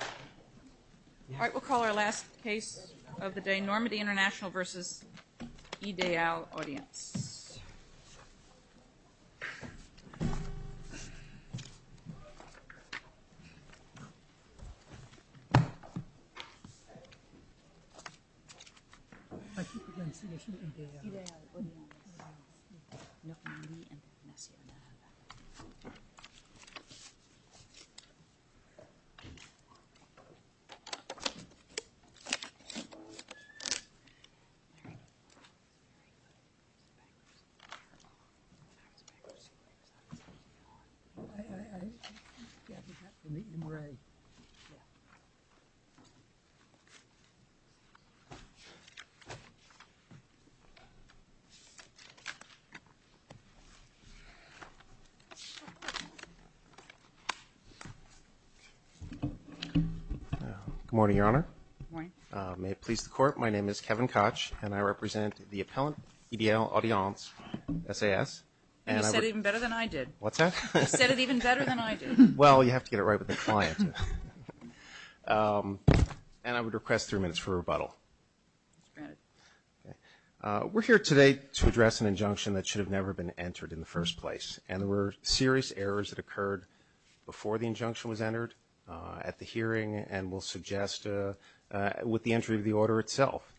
All right, we'll call our last case of the day Normandy International vs. Ideale Audience. Normandy International vs. Ideale Good morning, Your Honor. Good morning. May it please the Court, my name is Kevin Koch and I represent the Appellant Ideale Audience S.A.S. And you said it even better than I did. What's that? You said it even better than I did. Well, you have to get it right with the client. And I would request three minutes for rebuttal. We're here today to address an injunction that should have never been entered in the first place. And there were serious errors that occurred before the injunction was entered at the hearing and we'll suggest with the entry of the order itself.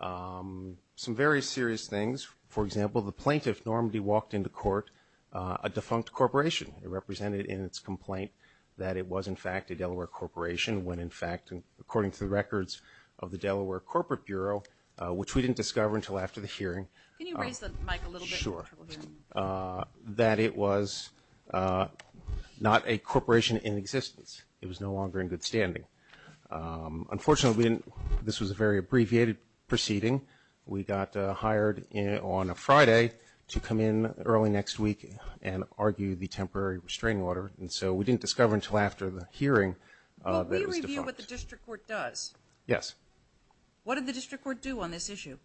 Some very serious things, for example, the plaintiff, Normandy, walked into court a defunct corporation. It represented in its complaint that it was, in fact, a Delaware corporation when, in fact, according to the records of the Delaware Corporate Bureau, which we didn't discover until after the hearing. Can you raise the mic a little bit? Sure. That it was not a corporation in existence. It was no longer in good standing. Unfortunately, this was a very abbreviated proceeding. We got hired on a Friday to come in early next week and argue the temporary restraining order. And so we didn't discover until after the hearing that it was defunct. Well, we review what the district court does. Yes. What did the district court do on this issue?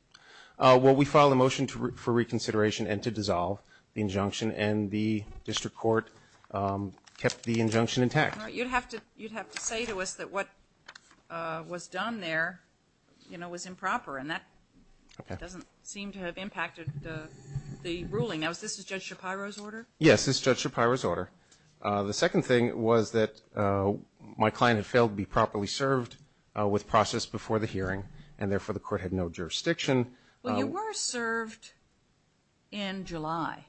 Well, we filed a motion for reconsideration and to dissolve the injunction. And the district court kept the injunction intact. All right. You'd have to say to us that what was done there, you know, was improper. And that doesn't seem to have impacted the ruling. Now, is this Judge Shapiro's order? Yes, this is Judge Shapiro's order. The second thing was that my client had failed to be properly served with process before the hearing, and therefore the court had no jurisdiction. Well, you were served in July.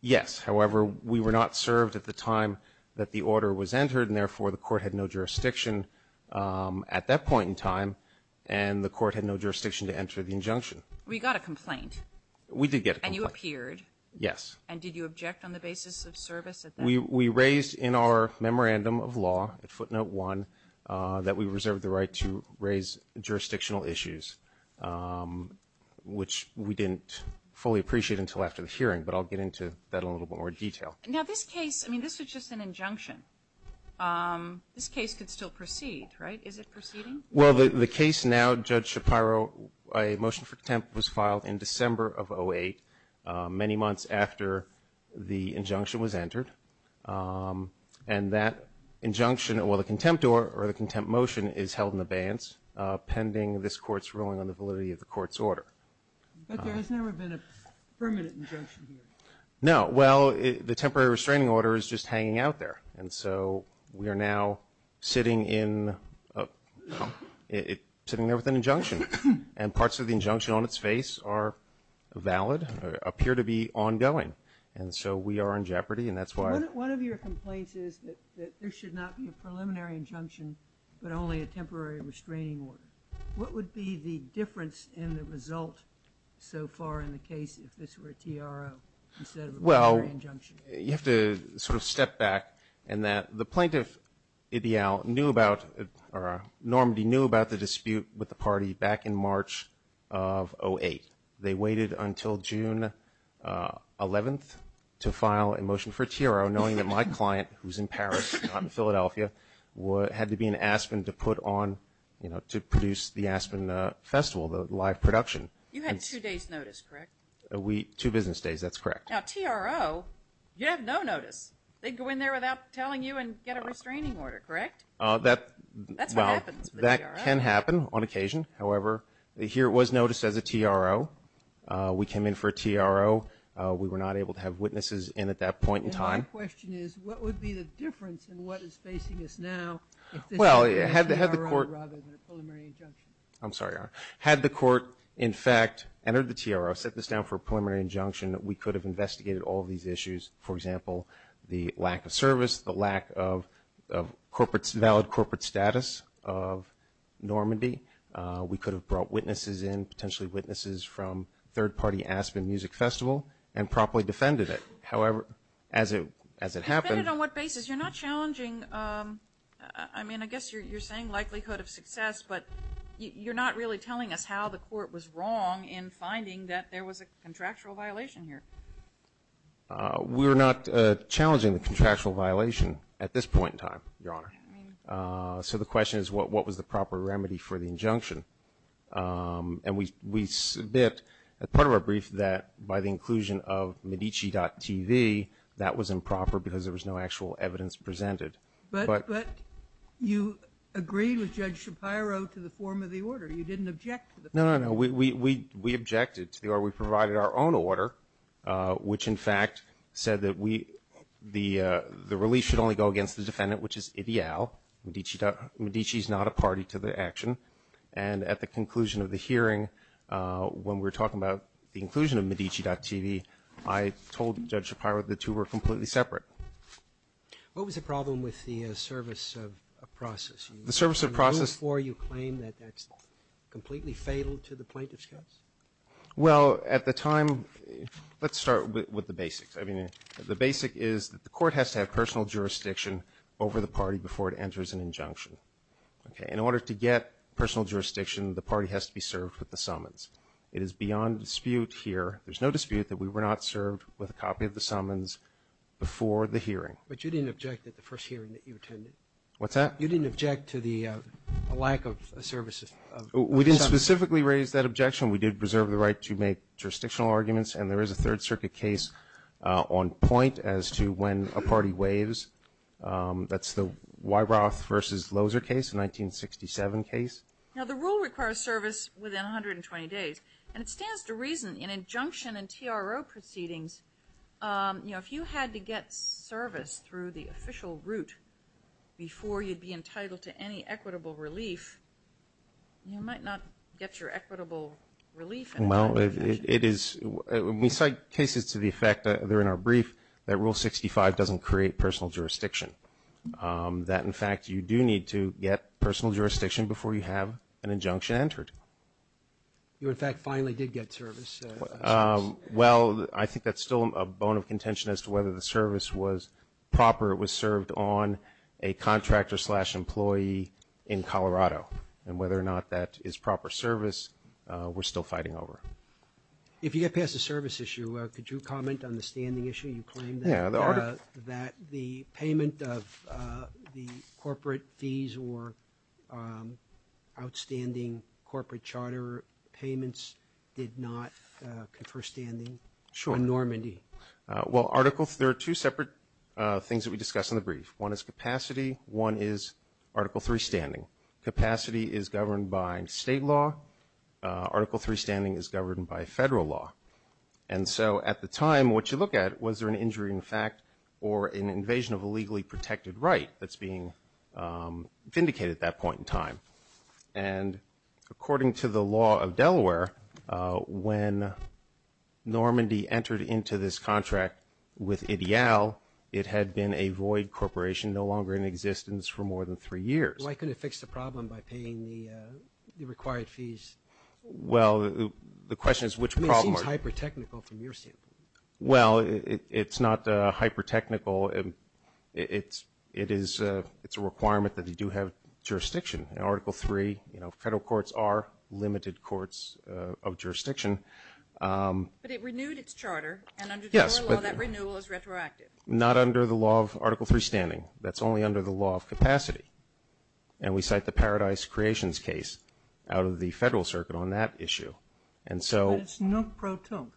Yes. However, we were not served at the time that the order was entered, and therefore the court had no jurisdiction at that point in time, and the court had no jurisdiction to enter the injunction. Well, you got a complaint. We did get a complaint. Yes. And did you object on the basis of service at that point? We raised in our memorandum of law at footnote one that we reserved the right to raise jurisdictional issues, which we didn't fully appreciate until after the hearing. But I'll get into that in a little bit more detail. Now, this case, I mean, this was just an injunction. This case could still proceed, right? Is it proceeding? Well, the case now, Judge Shapiro, a motion for contempt was filed in December of 2008, many months after the injunction was entered, and that injunction, or the contempt motion is held in abeyance pending this court's ruling on the validity of the court's order. But there has never been a permanent injunction here. No. Well, the temporary restraining order is just hanging out there, and so we are now sitting there with an injunction, and parts of the injunction on its face are valid or appear to be ongoing. And so we are in jeopardy, and that's why. One of your complaints is that there should not be a preliminary injunction but only a temporary restraining order. What would be the difference in the result so far in the case if this were a TRO instead of a preliminary injunction? Well, you have to sort of step back in that. The plaintiff, Normandy, knew about the dispute with the party back in March of 2008. They waited until June 11th to file a motion for TRO, knowing that my client, who's in Paris, not in Philadelphia, had to be in Aspen to produce the Aspen Festival, the live production. You had two days' notice, correct? Two business days, that's correct. Now, TRO, you have no notice. They'd go in there without telling you and get a restraining order, correct? That's what happens with the TRO. That can happen on occasion. However, here it was noticed as a TRO. We came in for a TRO. We were not able to have witnesses in at that point in time. My question is, what would be the difference in what is facing us now if this were a TRO rather than a preliminary injunction? I'm sorry, Your Honor. Had the court, in fact, entered the TRO, set this down for a preliminary injunction, we could have investigated all of these issues, for example, the lack of service, the lack of valid corporate status of Normandy. We could have brought witnesses in, potentially witnesses from third-party Aspen Music Festival, and properly defended it. However, as it happened- Defended on what basis? You're not challenging, I mean, I guess you're saying likelihood of success, but you're not really telling us how the court was wrong in finding that there was a contractual violation here. We're not challenging the contractual violation at this point in time, Your Honor. So the question is, what was the proper remedy for the injunction? And we submit, as part of our brief, that by the inclusion of Medici.TV, that was improper because there was no actual evidence presented. But you agreed with Judge Shapiro to the form of the order. You didn't object to the form of the order. No, no, no. We objected to the order. We provided our own order, which, in fact, said that we – the release should only go against the defendant, which is ideal. Medici's not a party to the action. And at the conclusion of the hearing, when we were talking about the inclusion of Medici.TV, I told Judge Shapiro the two were completely separate. What was the problem with the service of process? The service of process – Before you claim that that's completely fatal to the plaintiff's case? Well, at the time – let's start with the basics. I mean, the basic is that the court has to have personal jurisdiction over the party before it enters an injunction. Okay? In order to get personal jurisdiction, the party has to be served with the summons. It is beyond dispute here – there's no dispute that we were not served with a copy of the summons before the hearing. But you didn't object at the first hearing that you attended. What's that? You didn't object to the lack of services. We didn't specifically raise that objection. We did preserve the right to make jurisdictional arguments. And there is a Third Circuit case on point as to when a party waives. That's the Weyroth v. Loser case, a 1967 case. Now, the rule requires service within 120 days. And it stands to reason in injunction and TRO proceedings, you know, if you had to get service through the official route before you'd be entitled to any equitable relief, you might not get your equitable relief. Well, it is – we cite cases to the effect that are in our brief that Rule 65 doesn't create personal jurisdiction, that, in fact, you do need to get personal jurisdiction before you have an injunction entered. You, in fact, finally did get service. Well, I think that's still a bone of contention as to whether the service was proper. It was served on a contractor-slash-employee in Colorado. And whether or not that is proper service, we're still fighting over it. If you get past the service issue, could you comment on the standing issue? You claim that the payment of the corporate fees or outstanding corporate charter payments did not confer standing on Normandy. Sure. Well, Article – there are two separate things that we discussed in the brief. One is capacity. One is Article III standing. Capacity is governed by state law. Article III standing is governed by federal law. And so at the time, what you look at, was there an injury in fact or an invasion of a legally protected right that's being vindicated at that point in time? And according to the law of Delaware, when Normandy entered into this contract with Ideal, it had been a void corporation no longer in existence for more than three years. Why couldn't it fix the problem by paying the required fees? Well, the question is which problem are you talking about? It seems hyper-technical from your standpoint. Well, it's not hyper-technical. It's a requirement that you do have jurisdiction. In Article III, you know, federal courts are limited courts of jurisdiction. But it renewed its charter. Yes. And under the federal law, that renewal is retroactive. Not under the law of Article III standing. That's only under the law of capacity. And we cite the Paradise Creations case out of the federal circuit on that issue. But it's no pro tonk.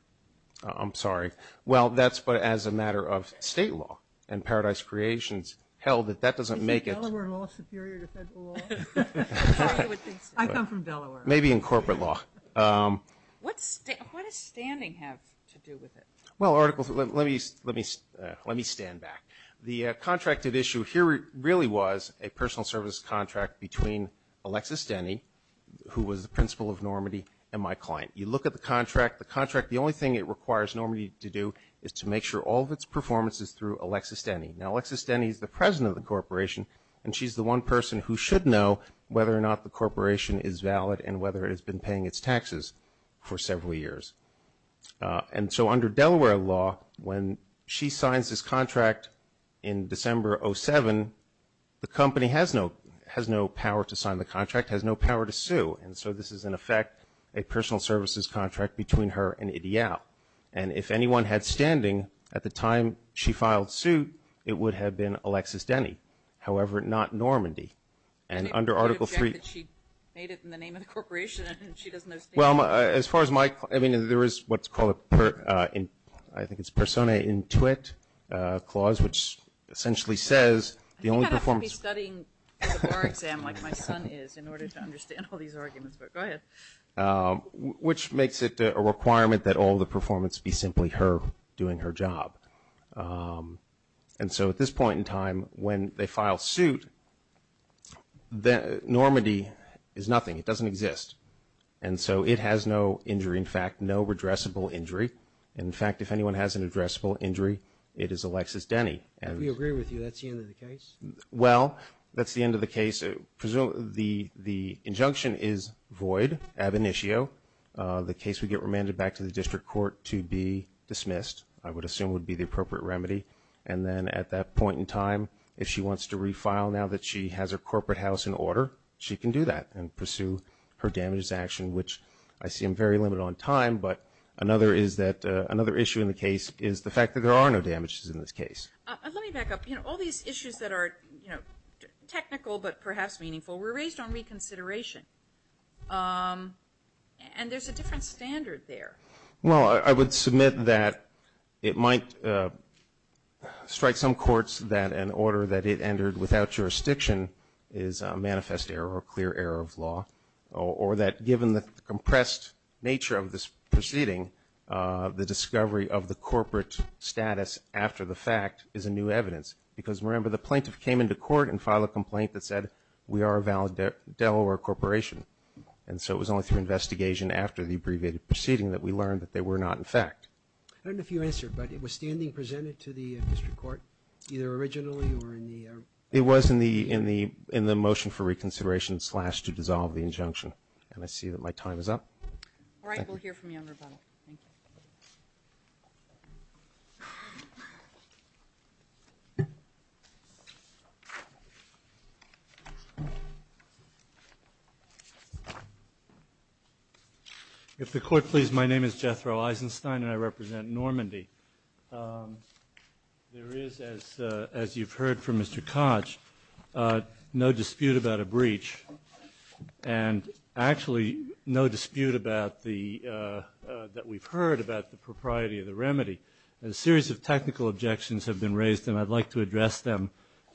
I'm sorry. Well, that's but as a matter of state law. And Paradise Creations held that that doesn't make it. Is Delaware law superior to federal law? I come from Delaware. Maybe in corporate law. What does standing have to do with it? Well, Article III, let me stand back. The contracted issue here really was a personal service contract between Alexis Denny, who was the principal of Normandy, and my client. You look at the contract. The contract, the only thing it requires Normandy to do is to make sure all of its performance is through Alexis Denny. Now, Alexis Denny is the president of the corporation, and she's the one person who should know whether or not the corporation is valid and whether it has been paying its taxes for several years. And so under Delaware law, when she signs this contract in December of 2007, the company has no power to sign the contract, has no power to sue. And so this is, in effect, a personal services contract between her and IDEAL. And if anyone had standing at the time she filed suit, it would have been Alexis Denny. However, not Normandy. And under Article III. She made it in the name of the corporation, and she doesn't know standing. Well, as far as my, I mean, there is what's called a, I think it's persona intuit clause, which essentially says the only performance. I think I'd have to be studying for the bar exam like my son is in order to understand all these arguments. But go ahead. Which makes it a requirement that all the performance be simply her doing her job. And so at this point in time, when they file suit, Normandy is nothing. It doesn't exist. And so it has no injury, in fact, no redressable injury. In fact, if anyone has an addressable injury, it is Alexis Denny. We agree with you. That's the end of the case. Well, that's the end of the case. The injunction is void, ab initio. The case would get remanded back to the district court to be dismissed. I would assume would be the appropriate remedy. And then at that point in time, if she wants to refile now that she has her corporate house in order, she can do that and pursue her damages action, which I seem very limited on time. But another issue in the case is the fact that there are no damages in this case. Let me back up. All these issues that are technical but perhaps meaningful were raised on reconsideration. And there's a different standard there. Well, I would submit that it might strike some courts that an order that it entered without jurisdiction is a manifest error or a clear error of law, or that given the compressed nature of this proceeding, the discovery of the corporate status after the fact is a new evidence. Because, remember, the plaintiff came into court and filed a complaint that said, we are a Delaware corporation. And so it was only through investigation after the abbreviated proceeding that we learned that they were not in fact. I don't know if you answered, but it was standing presented to the district court, either originally or in the era? It was in the motion for reconsideration slash to dissolve the injunction. And I see that my time is up. All right. We'll hear from you on rebuttal. Thank you. If the court please, my name is Jethro Eisenstein, and I represent Normandy. There is, as you've heard from Mr. Koch, no dispute about a breach, and actually no dispute that we've heard about the propriety of the remedy. A series of technical objections have been raised, and I'd like to address them,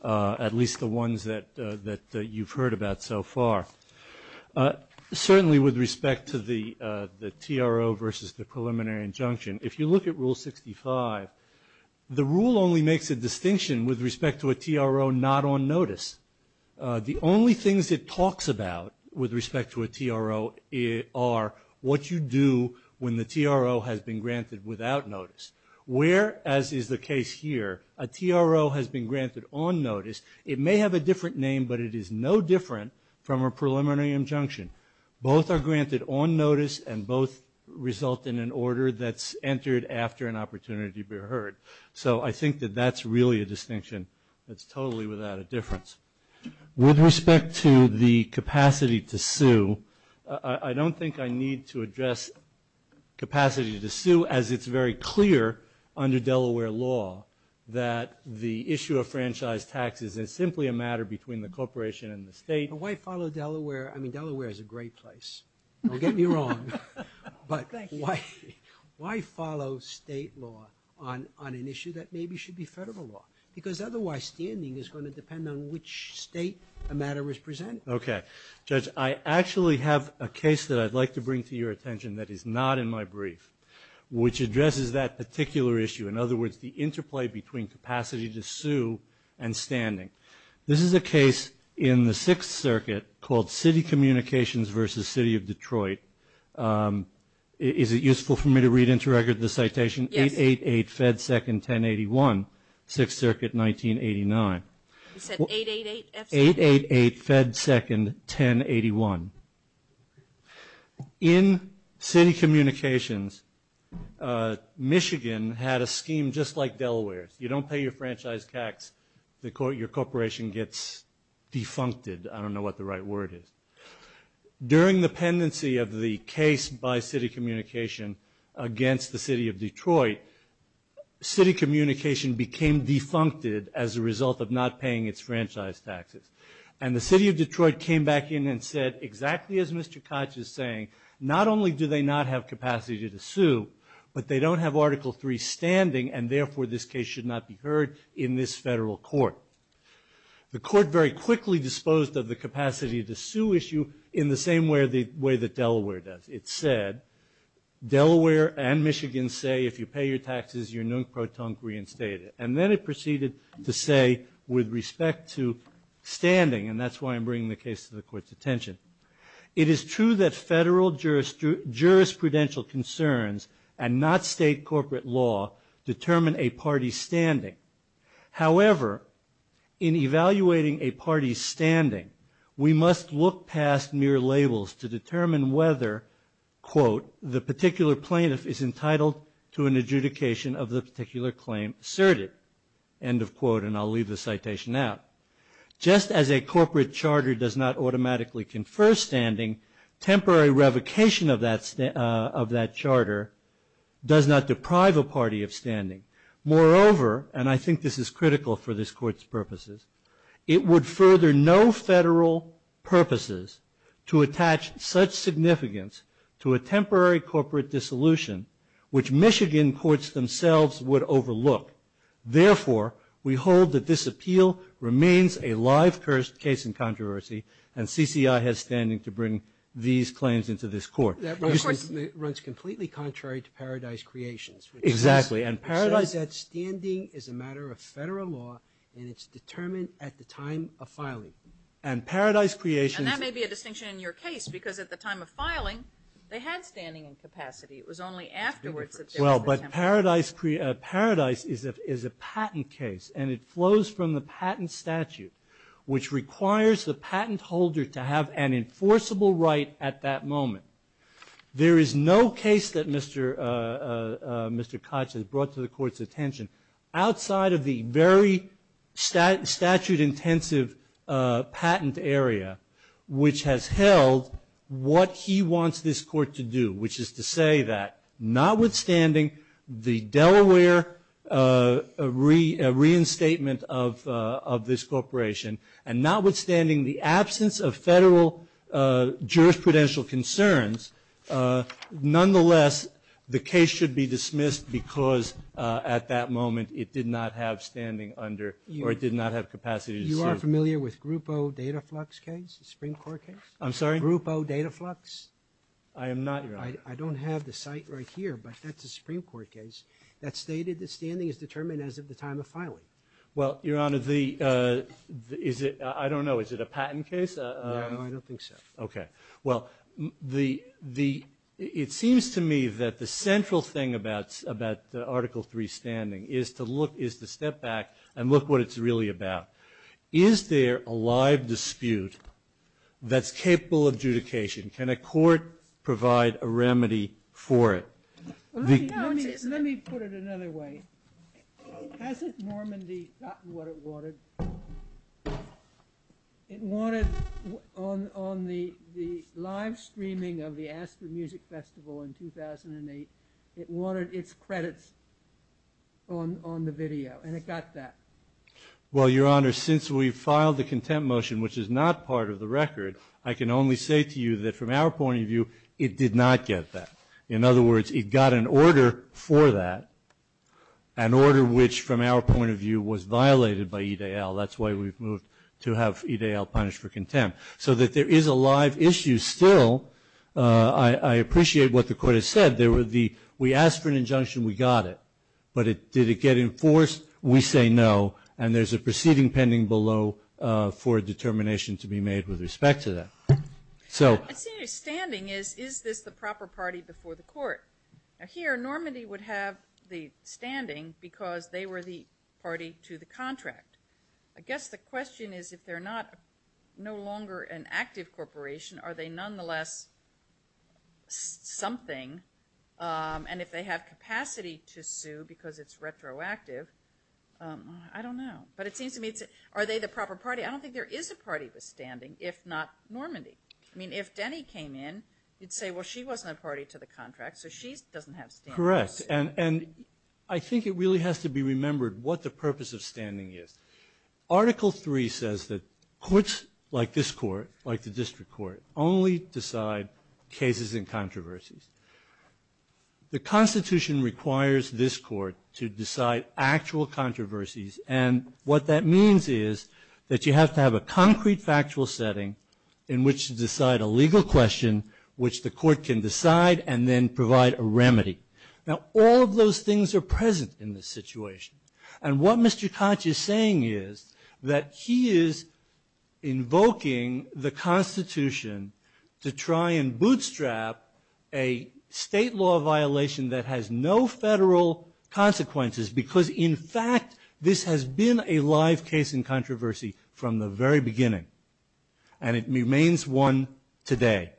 at least the ones that you've heard about so far. Certainly with respect to the TRO versus the preliminary injunction, if you look at Rule 65, the rule only makes a distinction with respect to a TRO not on notice. The only things it talks about with respect to a TRO are what you do when the TRO has been granted without notice. Where, as is the case here, a TRO has been granted on notice, it may have a different name, but it is no different from a preliminary injunction. Both are granted on notice, and both result in an order that's entered after an opportunity be heard. So I think that that's really a distinction that's totally without a difference. With respect to the capacity to sue, I don't think I need to address capacity to sue, as it's very clear under Delaware law that the issue of franchise taxes is simply a matter between the corporation and the state. But why follow Delaware? I mean, Delaware is a great place. Don't get me wrong. But why follow state law on an issue that maybe should be federal law? Because otherwise standing is going to depend on which state a matter is presented. Okay. Judge, I actually have a case that I'd like to bring to your attention that is not in my brief, which addresses that particular issue, in other words, the interplay between capacity to sue and standing. This is a case in the Sixth Circuit called City Communications v. City of Detroit. Is it useful for me to read into record the citation? Yes. 888 Fed 2nd, 1081, Sixth Circuit, 1989. You said 888? 888 Fed 2nd, 1081. In City Communications, Michigan had a scheme just like Delaware's. You don't pay your franchise tax, your corporation gets defuncted. I don't know what the right word is. During the pendency of the case by City Communication against the City of Detroit, City Communication became defuncted as a result of not paying its franchise taxes. And the City of Detroit came back in and said, exactly as Mr. Koch is saying, not only do they not have capacity to sue, but they don't have Article III standing, and therefore this case should not be heard in this federal court. The court very quickly disposed of the capacity to sue issue in the same way that Delaware does. It said, Delaware and Michigan say if you pay your taxes, you're non-proton reinstated. And then it proceeded to say, with respect to standing, and that's why I'm bringing the case to the court's attention, it is true that federal jurisprudential concerns and not state corporate law determine a party's standing. However, in evaluating a party's standing, we must look past mere labels to determine whether, quote, the particular plaintiff is entitled to an adjudication of the particular claim asserted, end of quote. And I'll leave the citation out. Just as a corporate charter does not automatically confer standing, temporary revocation of that charter does not deprive a party of standing. Moreover, and I think this is critical for this court's purposes, it would further no federal purposes to attach such significance to a temporary corporate dissolution, which Michigan courts themselves would overlook. Therefore, we hold that this appeal remains a live case in controversy, and CCI has standing to bring these claims into this court. Of course. Which runs completely contrary to Paradise Creations. Exactly, and Paradise. It says that standing is a matter of federal law, and it's determined at the time of filing. And Paradise Creations. And that may be a distinction in your case, because at the time of filing, they had standing and capacity. It was only afterwards that they were determined. But Paradise is a patent case, and it flows from the patent statute, which requires the patent holder to have an enforceable right at that moment. There is no case that Mr. Koch has brought to the court's attention outside of the very statute-intensive patent area which has held what he wants this court to do, which is to say that notwithstanding the Delaware reinstatement of this corporation, and notwithstanding the absence of federal jurisprudential concerns, nonetheless the case should be dismissed because at that moment it did not have standing under or it did not have capacity to sue. You are familiar with Grupo Dataflux case, the Supreme Court case? I'm sorry? Grupo Dataflux? I am not, Your Honor. I don't have the site right here, but that's a Supreme Court case that stated that standing is determined as of the time of filing. Well, Your Honor, the – is it – I don't know. Is it a patent case? No, I don't think so. Okay. Well, the – it seems to me that the central thing about Article III standing is to look – is to step back and look what it's really about. Is there a live dispute that's capable of adjudication? Can a court provide a remedy for it? Let me put it another way. Hasn't Normandy gotten what it wanted? It wanted on the live streaming of the Aspen Music Festival in 2008, it wanted its credits on the video, and it got that. Well, Your Honor, since we filed the contempt motion, which is not part of the record, I can only say to you that from our point of view, it did not get that. In other words, it got an order for that, an order which from our point of view was violated by EDL. That's why we've moved to have EDL punished for contempt. So that there is a live issue still. I appreciate what the court has said. There were the – we asked for an injunction, we got it. But did it get enforced? We say no. And there's a proceeding pending below for a determination to be made with respect to that. And senior standing is, is this the proper party before the court? Now, here Normandy would have the standing because they were the party to the contract. I guess the question is if they're no longer an active corporation, are they nonetheless something? And if they have capacity to sue because it's retroactive, I don't know. But it seems to me, are they the proper party? I don't think there is a party with standing, if not Normandy. I mean, if Denny came in, you'd say, well, she wasn't a party to the contract, so she doesn't have standing. Correct. And I think it really has to be remembered what the purpose of standing is. Article 3 says that courts like this court, like the district court, only decide cases and controversies. The Constitution requires this court to decide actual controversies. And what that means is that you have to have a concrete factual setting in which to decide a legal question, which the court can decide and then provide a remedy. Now, all of those things are present in this situation. And what Mr. Koch is saying is that he is invoking the Constitution to try and bootstrap a state law violation that has no federal consequences because, in fact, this has been a live case in controversy from the very beginning. And it remains one today.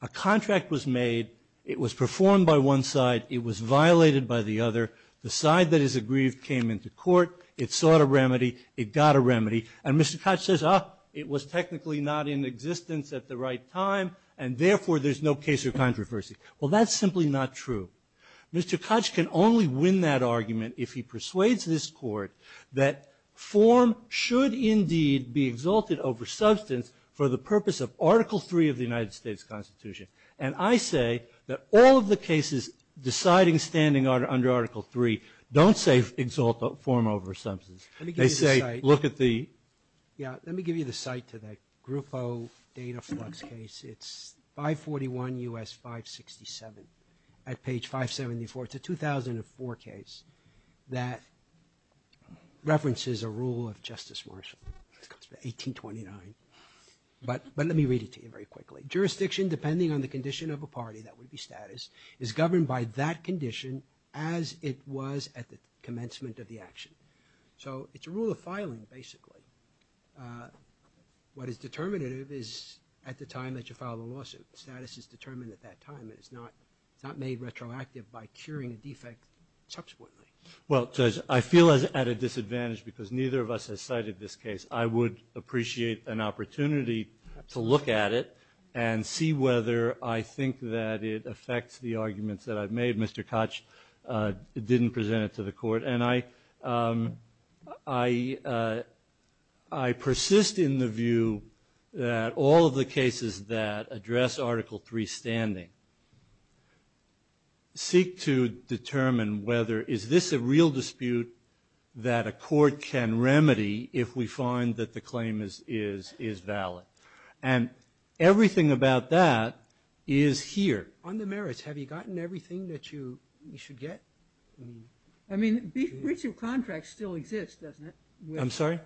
A contract was made. It was performed by one side. It was violated by the other. The side that is aggrieved came into court. It sought a remedy. It got a remedy. And Mr. Koch says, ah, it was technically not in existence at the right time, and therefore there's no case of controversy. Well, that's simply not true. Mr. Koch can only win that argument if he persuades this court that form should indeed be exalted over substance for the purpose of Article 3 of the United States Constitution. And I say that all of the cases deciding, standing under Article 3, don't say exalt form over substance. They say look at the ---- Let me give you the site to that Grupo data flux case. It's 541 U.S. 567 at page 574. It's a 2004 case that references a rule of Justice Marshall. It comes from 1829. But let me read it to you very quickly. Jurisdiction, depending on the condition of a party, that would be status, is governed by that condition as it was at the commencement of the action. So it's a rule of filing, basically. What is determinative is at the time that you file the lawsuit. Status is determined at that time. It is not made retroactive by curing a defect subsequently. Well, Judge, I feel at a disadvantage because neither of us has cited this case. I would appreciate an opportunity to look at it and see whether I think that it affects the arguments that I've made. Mr. Koch didn't present it to the court. And I persist in the view that all of the cases that address Article 3 standing seek to determine whether is this a real dispute that a court can remedy if we find that the claim is valid. And everything about that is here. On the merits, have you gotten everything that you should get? I mean, breach of contract still exists, doesn't it? I'm sorry?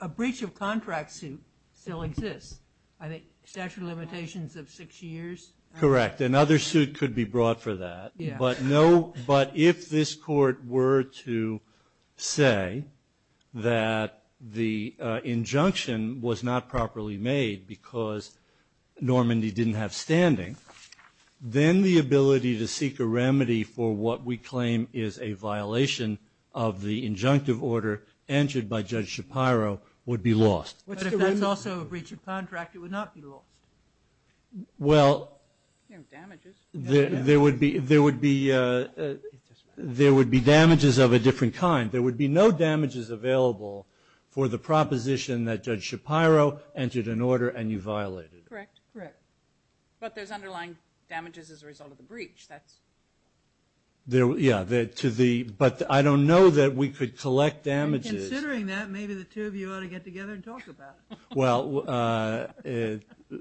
A breach of contract suit still exists. I think statute of limitations of six years. Correct. Another suit could be brought for that. Yeah. But if this court were to say that the injunction was not properly made because Normandy didn't have standing, then the ability to seek a remedy for what we claim is a violation of the injunctive order entered by Judge Shapiro would be lost. But if that's also a breach of contract, it would not be lost. Well, there would be. There would be damages of a different kind. There would be no damages available for the proposition that Judge Shapiro entered an order and you violated it. Correct. Correct. But there's underlying damages as a result of the breach. That's. Yeah. But I don't know that we could collect damages. Considering that, maybe the two of you ought to get together and talk about it. Well,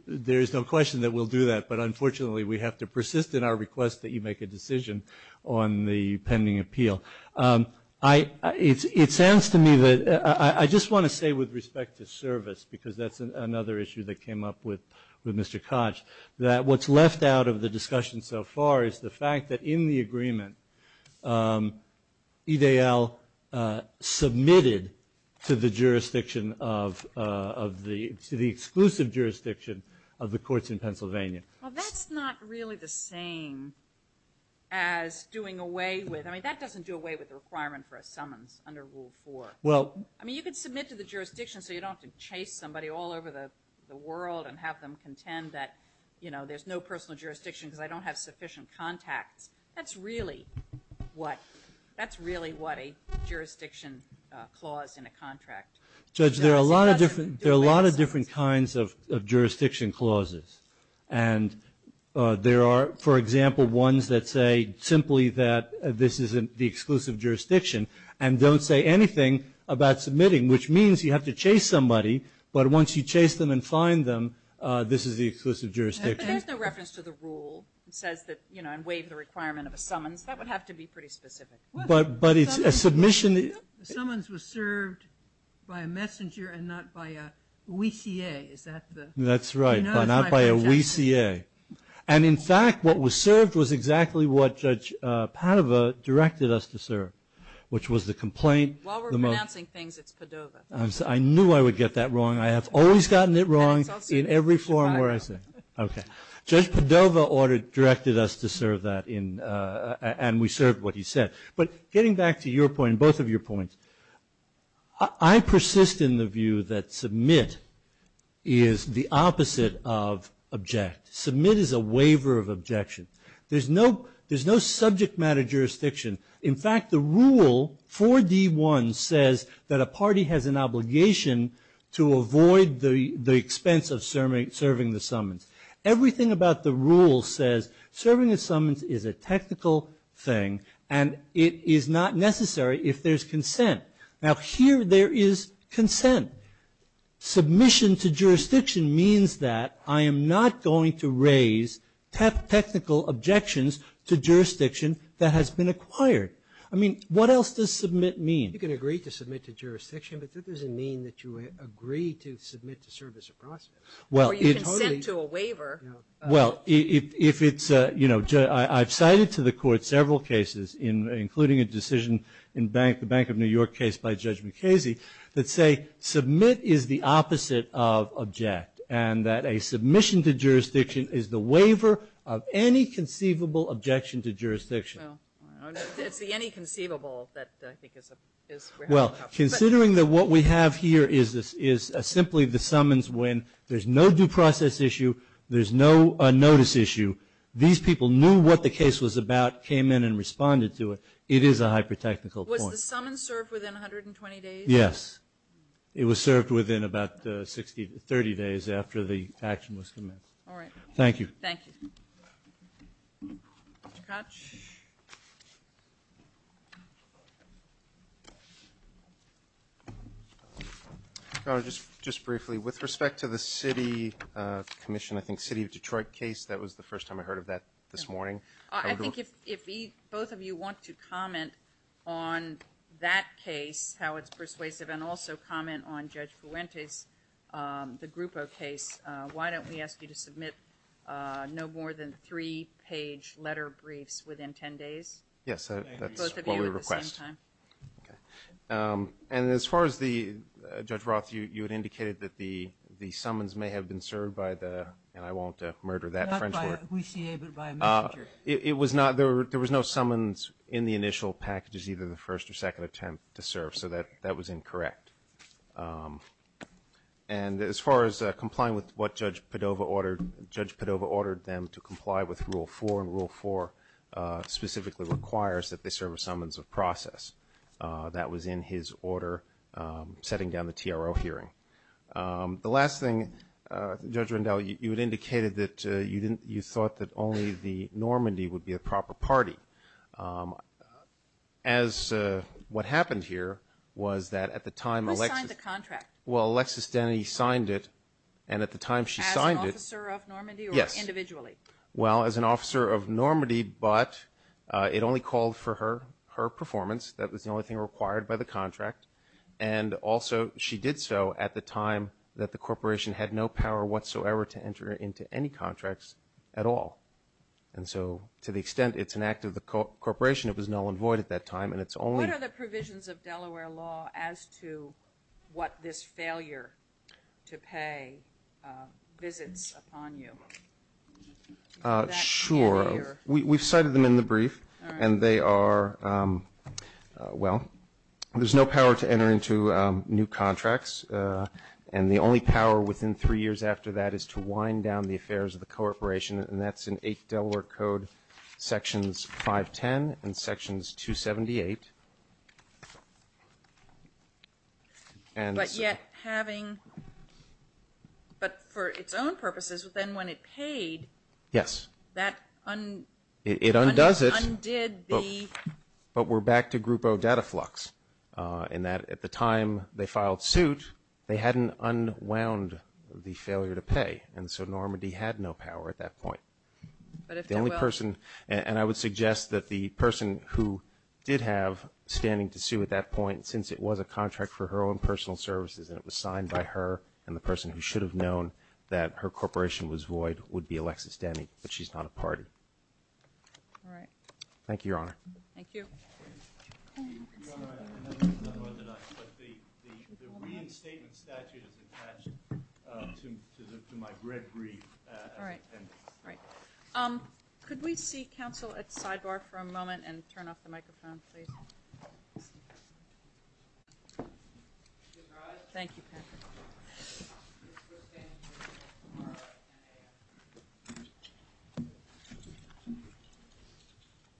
there's no question that we'll do that. But, unfortunately, we have to persist in our request that you make a decision on the pending appeal. It sounds to me that I just want to say with respect to service, because that's another issue that came up with Mr. Koch, that what's left out of the discussion so far is the fact that in the agreement, EDL submitted to the jurisdiction of the exclusive jurisdiction of the jurisdiction. Well, that's not really the same as doing away with, I mean, that doesn't do away with the requirement for a summons under rule four. Well. I mean, you can submit to the jurisdiction, so you don't have to chase somebody all over the world and have them contend that, you know, there's no personal jurisdiction because I don't have sufficient contacts. That's really what, that's really what a jurisdiction clause in a contract. Judge, there are a lot of different, different kinds of jurisdiction clauses. And there are, for example, ones that say simply that this isn't the exclusive jurisdiction and don't say anything about submitting, which means you have to chase somebody. But once you chase them and find them, this is the exclusive jurisdiction. There's no reference to the rule. It says that, you know, I'm waiving the requirement of a summons. That would have to be pretty specific. But it's a submission. Summons was served by a messenger and not by a WCA. Is that the? That's right, but not by a WCA. And, in fact, what was served was exactly what Judge Padova directed us to serve, which was the complaint. While we're pronouncing things, it's Padova. I knew I would get that wrong. I have always gotten it wrong in every forum where I sit. Okay. Judge Padova directed us to serve that and we served what he said. But getting back to your point and both of your points, I persist in the view that submit is the opposite of object. Submit is a waiver of objection. There's no subject matter jurisdiction. In fact, the rule, 4D1, says that a party has an obligation to avoid the expense of serving the summons. Everything about the rule says serving a summons is a technical thing and it is not necessary if there's consent. Now, here there is consent. Submission to jurisdiction means that I am not going to raise technical objections to jurisdiction that has been acquired. I mean, what else does submit mean? You can agree to submit to jurisdiction, but that doesn't mean that you agree to submit to service a process. Or you consent to a waiver. Well, if it's, you know, I've cited to the court several cases, including a decision in the Bank of New York case by Judge Mukasey, that say submit is the opposite of object and that a submission to jurisdiction is the waiver of any conceivable objection to jurisdiction. It's the any conceivable that I think is. Well, considering that what we have here is simply the summons when there's no due process issue, there's no notice issue, these people knew what the case was about, came in and responded to it. It is a hyper-technical point. Was the summons served within 120 days? Yes. It was served within about 30 days after the action was commenced. All right. Thank you. Thank you. Mr. Koch? Just briefly, with respect to the city commission, I think City of Detroit case, that was the first time I heard of that this morning. I think if both of you want to comment on that case, how it's persuasive and also comment on Judge Fuentes, the Grupo case, why don't we ask you to submit no more than three page letter briefs within 10 days? Yes. That's what we request. Both of you at the same time. Okay. And as far as the, Judge Roth, you had indicated that the summons may have been served by the, and I won't murder that French word. Not by a WCA, but by a messenger. It was not, there was no summons in the initial packages, either the first or second attempt to serve. So that was incorrect. And as far as complying with what Judge Padova ordered, Judge Padova ordered them to comply with rule four, and rule four specifically requires that they serve a summons of process. That was in his order setting down the TRO hearing. The last thing, Judge Rendell, you had indicated that you thought that only the Normandy would be a proper party. As what happened here was that at the time, Who signed the contract? Well, Alexis Denny signed it. And at the time she signed it. As an officer of Normandy? Yes. Or individually? Well, as an officer of Normandy, but it only called for her performance. That was the only thing required by the contract. And also she did so at the time that the corporation had no power whatsoever to enter into any contracts at all. And so to the extent it's an act of the corporation, it was null and void at that time, and it's only. What are the provisions of Delaware law as to what this failure to pay visits upon you? Sure. We've cited them in the brief. And they are, well, there's no power to enter into new contracts. And the only power within three years after that is to wind down the affairs of the corporation. And that's in Eighth Delaware Code Sections 510 and Sections 278. But yet having, but for its own purposes, then when it paid. Yes. It undoes it. Undid the. But we're back to Group O data flux in that at the time they filed suit, they hadn't unwound the failure to pay. And so Normandy had no power at that point. The only person, and I would suggest that the person who did have standing to sue at that point, since it was a contract for her own personal services and it was signed by her and the person who should have known that her corporation was void would be Alexis Denny. But she's not a part of it. All right. Thank you, Your Honor. Thank you. Your Honor, I know this is unorthodox, but the reinstatement statute is attached to my red brief. All right. All right. Could we see counsel at sidebar for a moment and turn off the microphone, please? Thank you, Patrick.